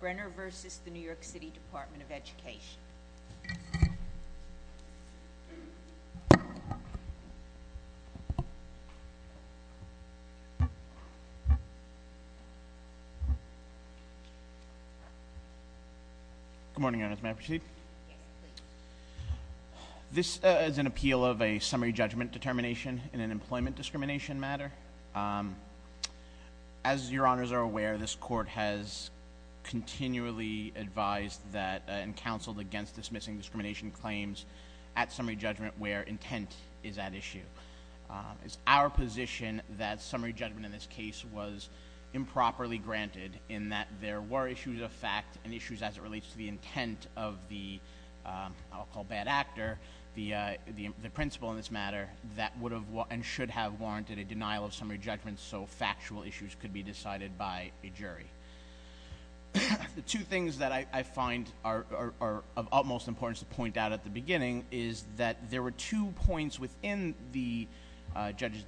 Brenner v. The New York City Department of Education. Good morning, may I proceed? This is an appeal of a summary judgment determination in an employment discrimination matter. As your honors are aware, this court has continually advised that and counseled against dismissing discrimination claims at summary judgment where intent is at issue. It's our position that summary judgment in this case was improperly granted in that there were issues of fact and issues as it relates to the intent of the, I'll call bad actor, the principle in this matter that would have and should have warranted a denial of summary judgment so factual issues could be decided by a jury. The two things that I find are of utmost importance to point out at the beginning is that there were two points within the judge's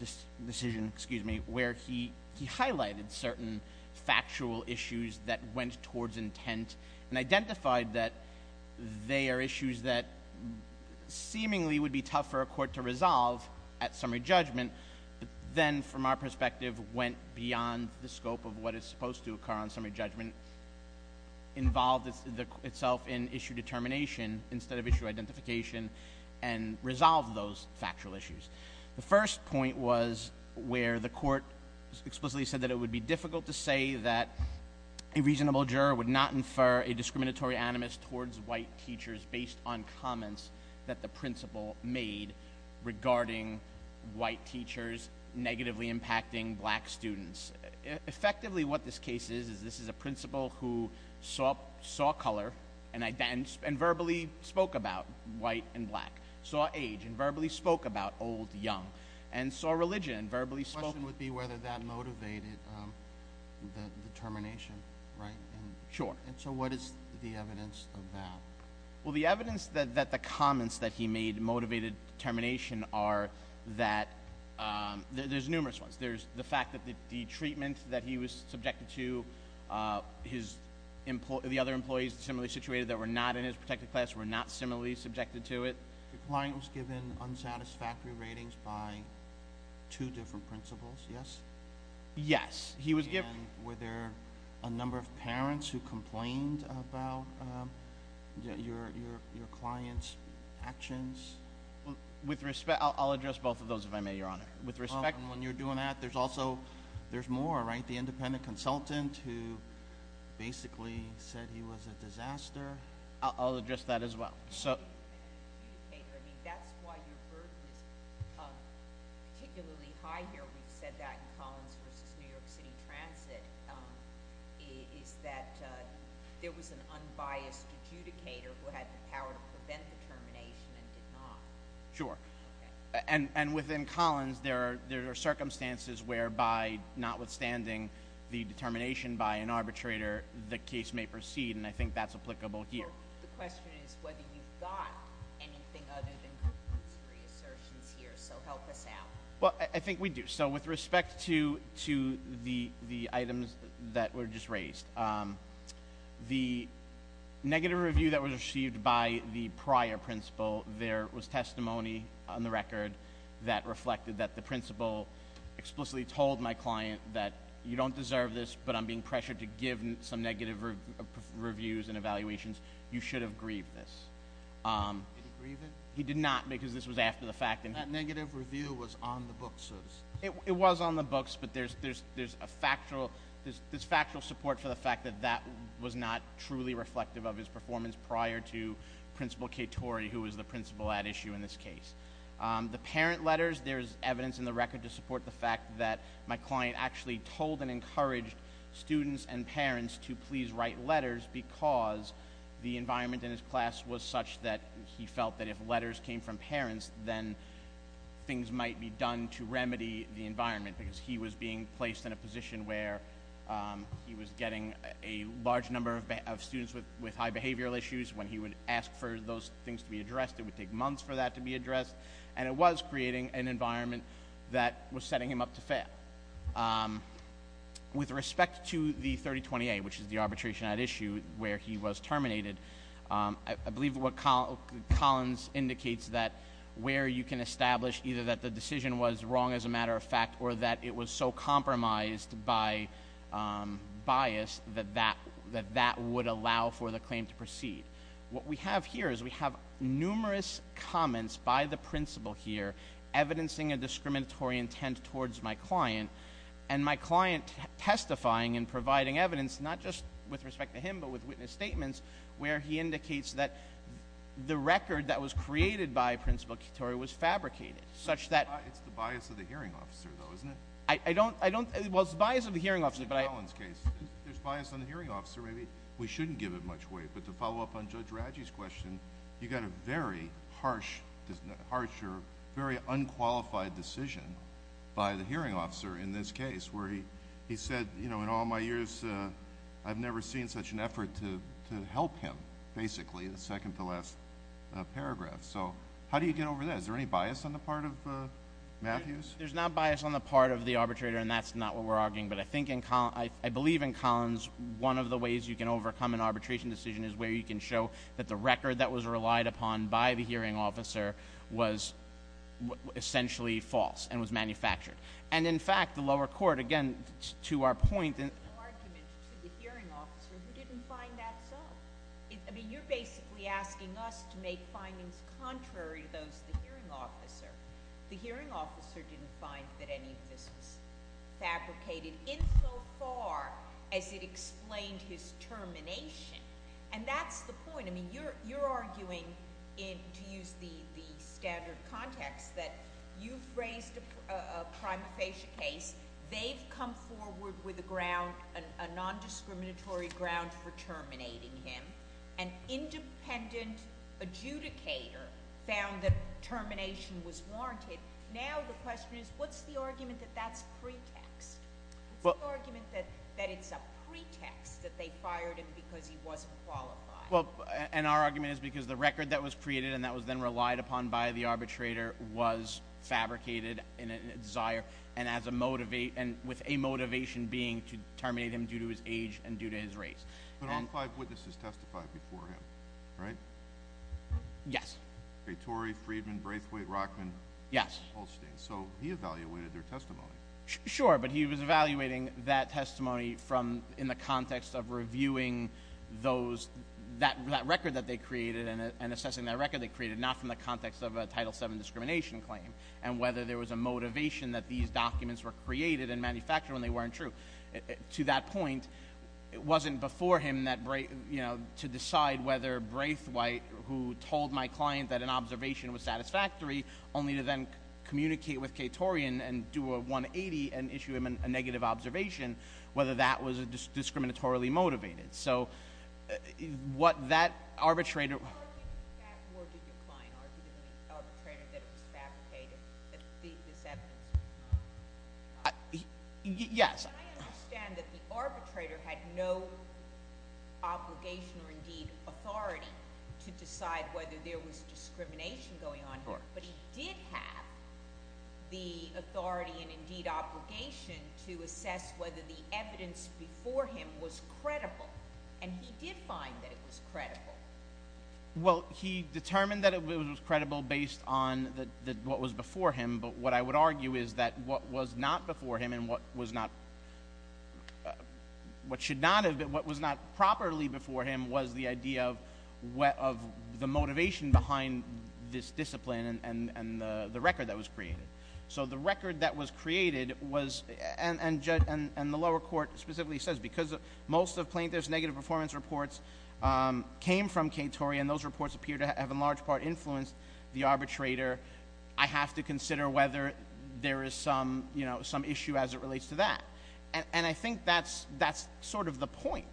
decision, excuse me, where he highlighted certain factual issues that went towards intent and resolve at summary judgment, then from our perspective went beyond the scope of what is supposed to occur on summary judgment. Involved itself in issue determination instead of issue identification and resolve those factual issues. The first point was where the court explicitly said that it would be difficult to say that a reasonable juror would not infer a discriminatory animus towards white teachers based on comments that the principal made regarding white teachers negatively impacting black students. Effectively what this case is, is this is a principal who saw color and verbally spoke about white and black, saw age and verbally spoke about old, young, and saw religion and verbally spoke. The question would be whether that motivated the determination, right? Sure. So what is the evidence of that? Well, the evidence that the comments that he made motivated determination are that, there's numerous ones. There's the fact that the treatment that he was subjected to, the other employees similarly situated that were not in his protected class were not similarly subjected to it. The client was given unsatisfactory ratings by two different principals, yes? Yes. He was given- Were there a number of parents who complained about your client's actions? With respect, I'll address both of those if I may, your honor. With respect- When you're doing that, there's also, there's more, right? The independent consultant who basically said he was a disaster. I'll address that as well. So- I mean, that's why your burden is particularly high here. We've said that in Collins versus New York City Transit, is that there was an unbiased adjudicator who had the power to prevent the termination and did not. Sure, and within Collins, there are circumstances whereby, notwithstanding the determination by an arbitrator, the case may proceed, and I think that's applicable here. The question is whether you've got anything other than three assertions here, so help us out. Well, I think we do. So with respect to the items that were just raised, the negative review that was received by the prior principal, there was testimony on the record that reflected that the principal explicitly told my client that you don't deserve this, but I'm being pressured to give some negative reviews and you should have grieved this. Did he grieve it? He did not, because this was after the fact. And that negative review was on the books, so to speak. It was on the books, but there's factual support for the fact that that was not truly reflective of his performance prior to Principal Katori, who was the principal at issue in this case. The parent letters, there's evidence in the record to support the fact that my client actually told and the environment in his class was such that he felt that if letters came from parents, then things might be done to remedy the environment, because he was being placed in a position where he was getting a large number of students with high behavioral issues when he would ask for those things to be addressed. It would take months for that to be addressed, and it was creating an environment that was setting him up to fail. With respect to the 3028, which is the arbitration at issue, where he was terminated. I believe what Collins indicates that where you can establish either that the decision was wrong as a matter of fact or that it was so compromised by bias that that would allow for the claim to proceed. What we have here is we have numerous comments by the principal here evidencing a discriminatory intent towards my client and my client testifying and providing evidence not just with respect to him but with witness statements where he indicates that the record that was created by Principal Katori was fabricated such that- It's the bias of the hearing officer though, isn't it? I don't, well it's the bias of the hearing officer but I- It's the Collins case. There's bias on the hearing officer, maybe we shouldn't give it much weight. But to follow up on Judge Radji's question, you got a very harsh, harsher, very unqualified decision by the hearing officer in this case. Where he said, in all my years, I've never seen such an effort to help him, basically, the second to last paragraph, so how do you get over that? Is there any bias on the part of Matthews? There's not bias on the part of the arbitrator, and that's not what we're arguing. But I believe in Collins, one of the ways you can overcome an arbitration decision is where you can show that the record that was relied upon by the hearing officer was essentially false and was manufactured. And in fact, the lower court, again, to our point- There's no argument to the hearing officer who didn't find that so. I mean, you're basically asking us to make findings contrary to those of the hearing officer. The hearing officer didn't find that any of this was fabricated insofar as it explained his termination. And that's the point, I mean, you're arguing, to use the standard context, that you've raised a prima facie case. They've come forward with a ground, a non-discriminatory ground for terminating him. An independent adjudicator found that termination was warranted. Now the question is, what's the argument that that's pretext? What's the argument that it's a pretext that they fired him because he wasn't qualified? Well, and our argument is because the record that was created and that was then relied upon by the arbitrator was fabricated in a desire. And with a motivation being to terminate him due to his age and due to his race. But all five witnesses testified before him, right? Yes. Okay, Tory, Freedman, Braithwaite, Rockman. Yes. Holstein. So he evaluated their testimony. Sure, but he was evaluating that testimony from, in the context of reviewing those, that record that they created and assessing that record they created, not from the context of a Title VII discrimination claim. And whether there was a motivation that these documents were created and manufactured when they weren't true. To that point, it wasn't before him to decide whether Braithwaite, who told my client that an observation was satisfactory, only to then communicate with Katorian and do a 180 and issue him a negative observation, whether that was discriminatorily motivated. So, what that arbitrator- How are you going to back word that your client argued in the arbitrator that it was fabricated, that this evidence was not? Yes. I understand that the arbitrator had no obligation or indeed authority to decide whether there was discrimination going on here. But he did have the authority and indeed obligation to assess whether the evidence before him was credible. And he did find that it was credible. Well, he determined that it was credible based on what was before him. But what I would argue is that what was not before him and what was not, what should not have been, what was not properly before him was the idea of the motivation behind this discipline and the record that was created. So the record that was created was, and the lower court specifically says, because most of Plaintiff's negative performance reports came from Katorian. Those reports appear to have in large part influenced the arbitrator. I have to consider whether there is some issue as it relates to that. And I think that's sort of the point,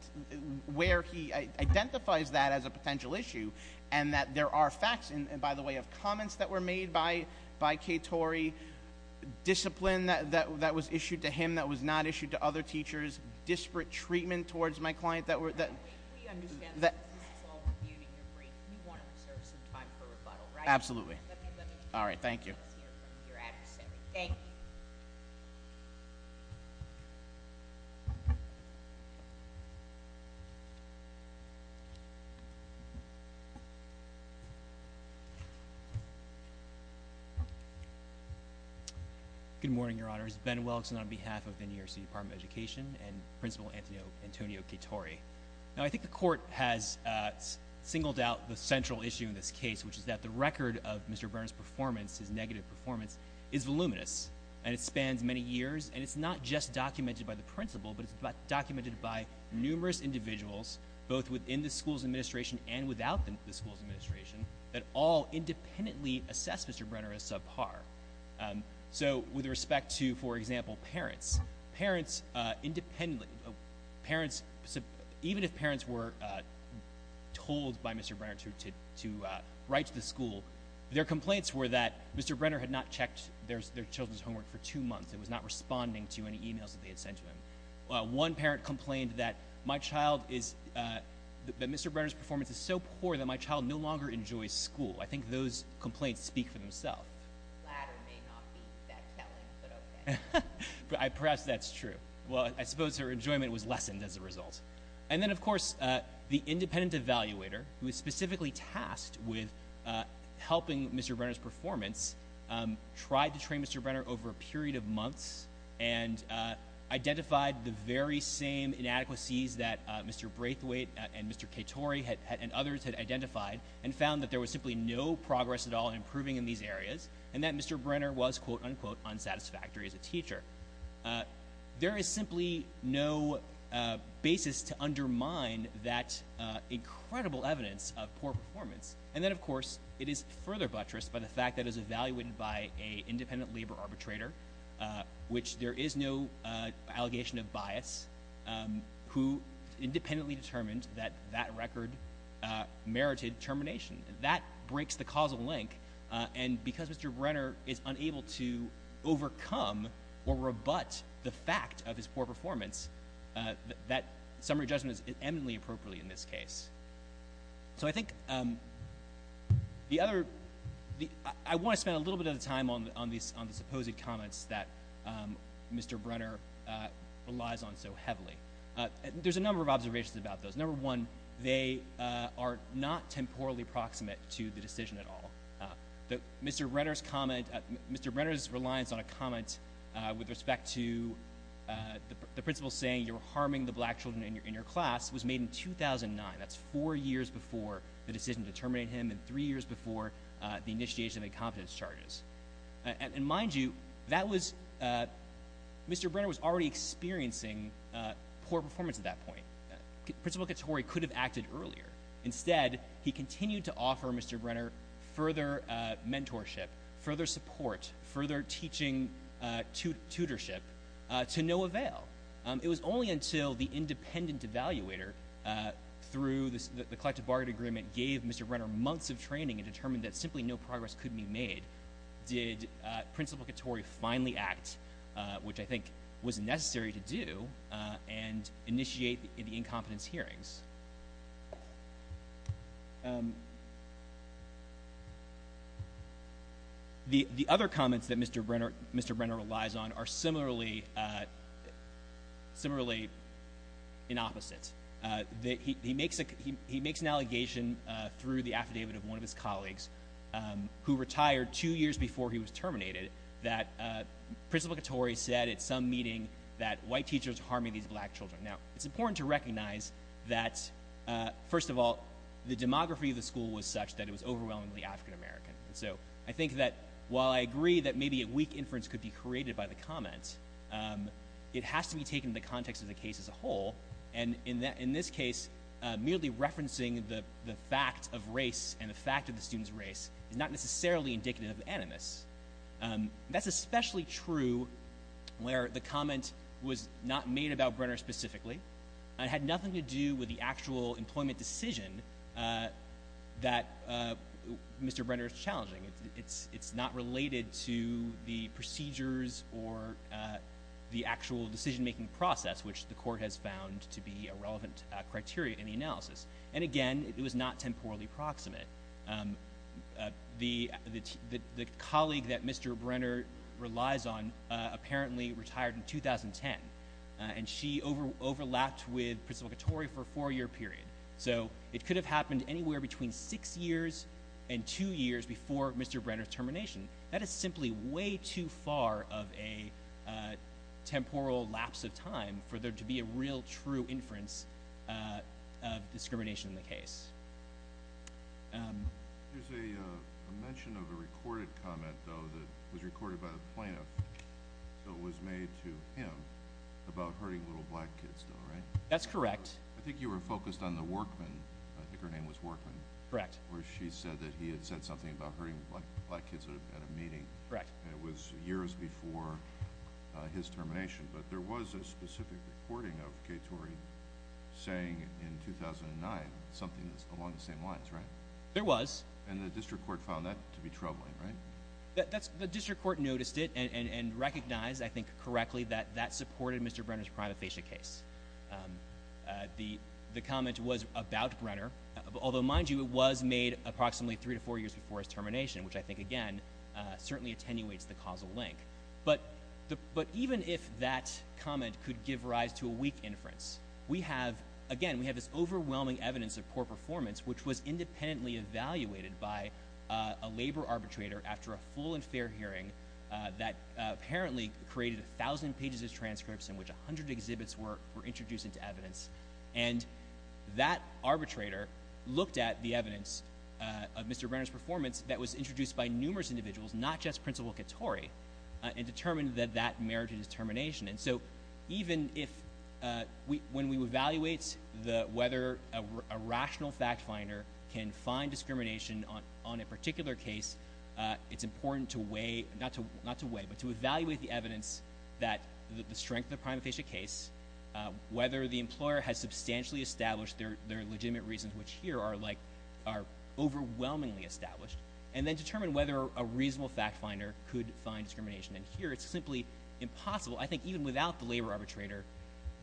where he identifies that as a potential issue. And that there are facts, and by the way, of comments that were made by Katory. Discipline that was issued to him that was not issued to other teachers. Disparate treatment towards my client that were- We understand that this is all with you in your brain. You want to reserve some time for rebuttal, right? Absolutely. All right, thank you. Thank you. Good morning, your honors. Ben Welch, and on behalf of the New York City Department of Education and Principal Antonio Katori. Now, I think the court has singled out the central issue in this case, which is that the record of Mr. Brenner's performance, his negative performance, is voluminous. And it spans many years. And it's not just documented by the principal, but it's documented by numerous individuals, both within the school's administration and without the school's administration, that all independently assess Mr. Brenner as subpar. So with respect to, for example, parents. Parents independently, even if parents were told by Mr. Brenner to write to the school. Their complaints were that Mr. Brenner had not checked their children's homework for two months. It was not responding to any emails that they had sent to him. One parent complained that Mr. Brenner's performance is so poor that my child no longer enjoys school. I think those complaints speak for themselves. The latter may not be that telling, but okay. Perhaps that's true. Well, I suppose her enjoyment was lessened as a result. And then, of course, the independent evaluator, who is specifically tasked with helping Mr. Brenner's performance, tried to train Mr. Brenner over a period of months and identified the very same inadequacies that Mr. Braithwaite and Mr. Katori and others had identified and found that there was simply no progress at all in improving in these areas. And that Mr. Brenner was, quote, unquote, unsatisfactory as a teacher. There is simply no basis to undermine that incredible evidence of poor performance. And then, of course, it is further buttressed by the fact that it is evaluated by a independent labor arbitrator, which there is no allegation of bias, who independently determined that that record merited termination. That breaks the causal link, and because Mr. Brenner is unable to overcome or rebut the fact of his poor performance, that summary judgment is eminently appropriate in this case. So I think the other, I want to spend a little bit of the time on the supposed comments that Mr. Brenner relies on so heavily. There's a number of observations about those. Number one, they are not temporally proximate to the decision at all. Mr. Brenner's comment, Mr. Brenner's reliance on a comment with respect to the principal saying you're harming the black children in your class was made in 2009. That's four years before the decision to terminate him and three years before the initiation of incompetence charges. And mind you, Mr. Brenner was already experiencing poor performance at that point. Principal Katori could have acted earlier. Instead, he continued to offer Mr. Brenner further mentorship, further support, further teaching tutorship to no avail. It was only until the independent evaluator, through the collective bargaining agreement, gave Mr. Brenner months of training and determined that simply no progress could be made. Did Principal Katori finally act, which I think was necessary to do, and initiate the incompetence hearings? The other comments that Mr. Brenner relies on are similarly in opposite. He makes an allegation through the affidavit of one of his colleagues, who retired two years before he was terminated, that Principal Katori said at some meeting that white teachers are harming these black children. Now, it's important to recognize that, first of all, the demography of the school was such that it was overwhelmingly African American. So I think that while I agree that maybe a weak inference could be created by the comments, it has to be taken in the context of the case as a whole. And in this case, merely referencing the fact of race and That's especially true where the comment was not made about Brenner specifically. It had nothing to do with the actual employment decision that Mr. Brenner is challenging. It's not related to the procedures or the actual decision-making process, which the court has found to be a relevant criteria in the analysis. And again, it was not temporally proximate. The colleague that Mr. Brenner relies on apparently retired in 2010, and she overlapped with Principal Katori for a four-year period. So it could have happened anywhere between six years and two years before Mr. Brenner's termination. That is simply way too far of a temporal lapse of time for there to be a real true inference of discrimination in the case. There's a mention of a recorded comment, though, that was recorded by the plaintiff. So it was made to him about hurting little black kids, though, right? That's correct. I think you were focused on the workman. I think her name was workman. Correct. Where she said that he had said something about hurting black kids at a meeting. Correct. And it was years before his termination. But there was a specific recording of Katori saying in 2009 something along the same lines, right? There was. And the district court found that to be troubling, right? The district court noticed it and recognized, I think correctly, that that supported Mr. Brenner's prima facie case. The comment was about Brenner, although, mind you, it was made approximately three to four years before his termination, which I think, again, certainly attenuates the causal link. But even if that comment could give rise to a weak inference, we have, again, we have this overwhelming evidence of poor performance, which was independently evaluated by a labor arbitrator after a full and fair hearing that apparently created 1,000 pages of transcripts in which 100 exhibits were introduced into evidence. And that arbitrator looked at the evidence of Mr. Brenner's performance that was introduced by numerous individuals, not just Principal Katori, and determined that that merited his termination. And so even if we, when we evaluate the, whether a rational fact finder can find discrimination on a particular case, it's important to weigh, not to weigh, but to evaluate the evidence that the strength of the prima facie case, whether the employer has substantially established their legitimate reasons, which here are like, are overwhelmingly established, and then determine whether a reasonable fact finder could find discrimination. And here, it's simply impossible. I think even without the labor arbitrator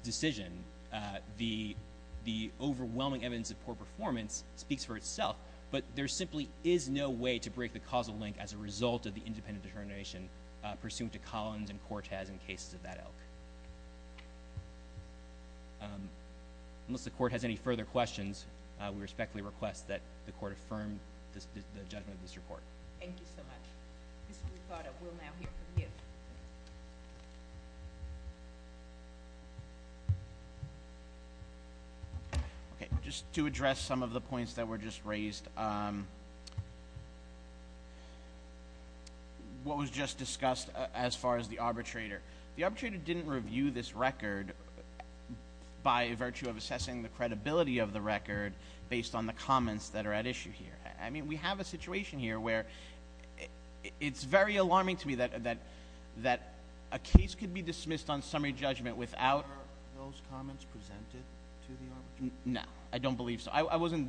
decision, the overwhelming evidence of poor performance speaks for itself. But there simply is no way to break the causal link as a result of the independent determination pursuant to Collins and Cortes in cases of that ilk. Unless the court has any further questions, we respectfully request that the court affirm the judgment of this report. Thank you so much. This will be thought of. We'll now hear from you. Okay. Just to address some of the points that were just raised, what was just discussed as far as the arbitrator. The arbitrator didn't review this record by virtue of assessing the credibility of the record based on the comments that are at issue here. I mean, we have a situation here where it's very alarming to me that a case could be dismissed on summary judgment without. Were those comments presented to the arbitrator? No. I don't believe so. I wasn't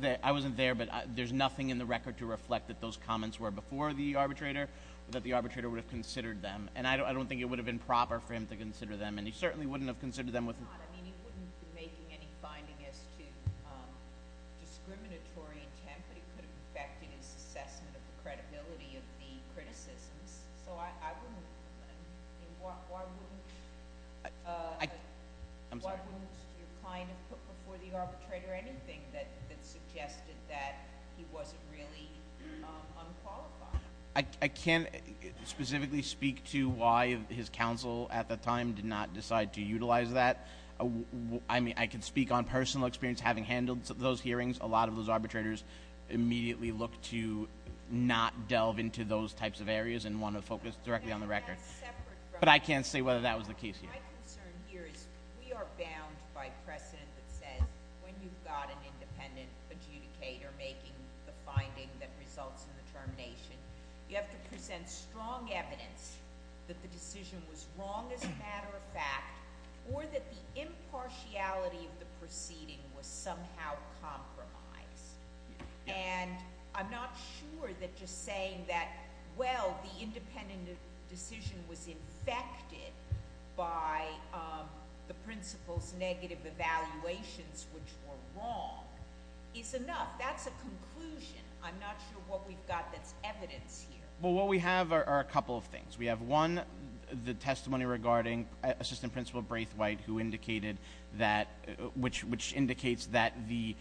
there, but there's nothing in the record to reflect that those comments were before the arbitrator, that the arbitrator would have considered them. And I don't think it would have been proper for him to consider them. And he certainly wouldn't have considered them with. I mean, he wouldn't be making any findings as to discriminatory intent that could have affected his assessment of the credibility of the criticisms. So, I wouldn't, I mean, why wouldn't your client have put before the arbitrator anything that suggested that he wasn't really unqualified? I can't specifically speak to why his counsel at the time did not decide to utilize that. I mean, I can speak on personal experience having handled those hearings. A lot of those arbitrators immediately look to not delve into those types of areas and want to focus directly on the record. But I can't say whether that was the case here. My concern here is we are bound by precedent that says when you've got an independent adjudicator making the finding that results in the termination, you have to present strong evidence that the decision was wrong as a matter of fact, or that the impartiality of the proceeding was somehow compromised. And I'm not sure that just saying that, well, the independent decision was infected by the principal's negative evaluations, which were wrong, is enough. That's a conclusion. I'm not sure what we've got that's evidence here. Well, what we have are a couple of things. We have one, the testimony regarding Assistant Principal Braithwaite, who indicated that, which indicates that the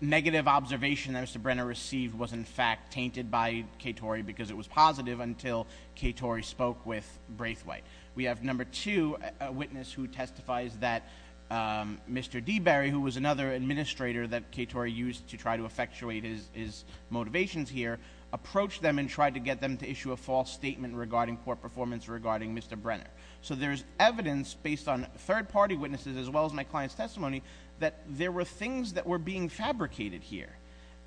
negative observation that Mr. Brenner received was in fact tainted by Katory because it was positive until Katory spoke with Braithwaite. We have number two, a witness who testifies that Mr. Deberry, who was another administrator that Katory used to try to effectuate his motivations here, approached them and tried to get them to issue a false statement regarding poor performance regarding Mr. Brenner. So there's evidence based on third party witnesses as well as my client's testimony that there were things that were being fabricated here.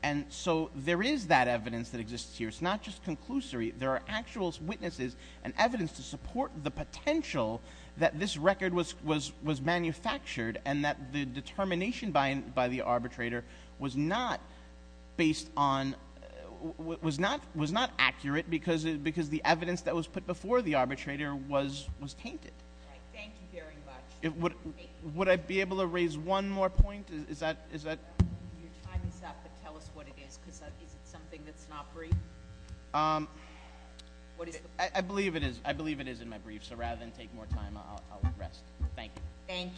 And so there is that evidence that exists here. It's not just conclusory, there are actual witnesses and evidence to support the potential that this record was manufactured. And that the determination by the arbitrator was not based on, was not accurate because the evidence that was put before the arbitrator was tainted. Thank you very much. Would I be able to raise one more point? Is that? Your time is up, but tell us what it is, because is it something that's not brief? I believe it is in my brief, so rather than take more time, I'll rest. Thank you. Thank you.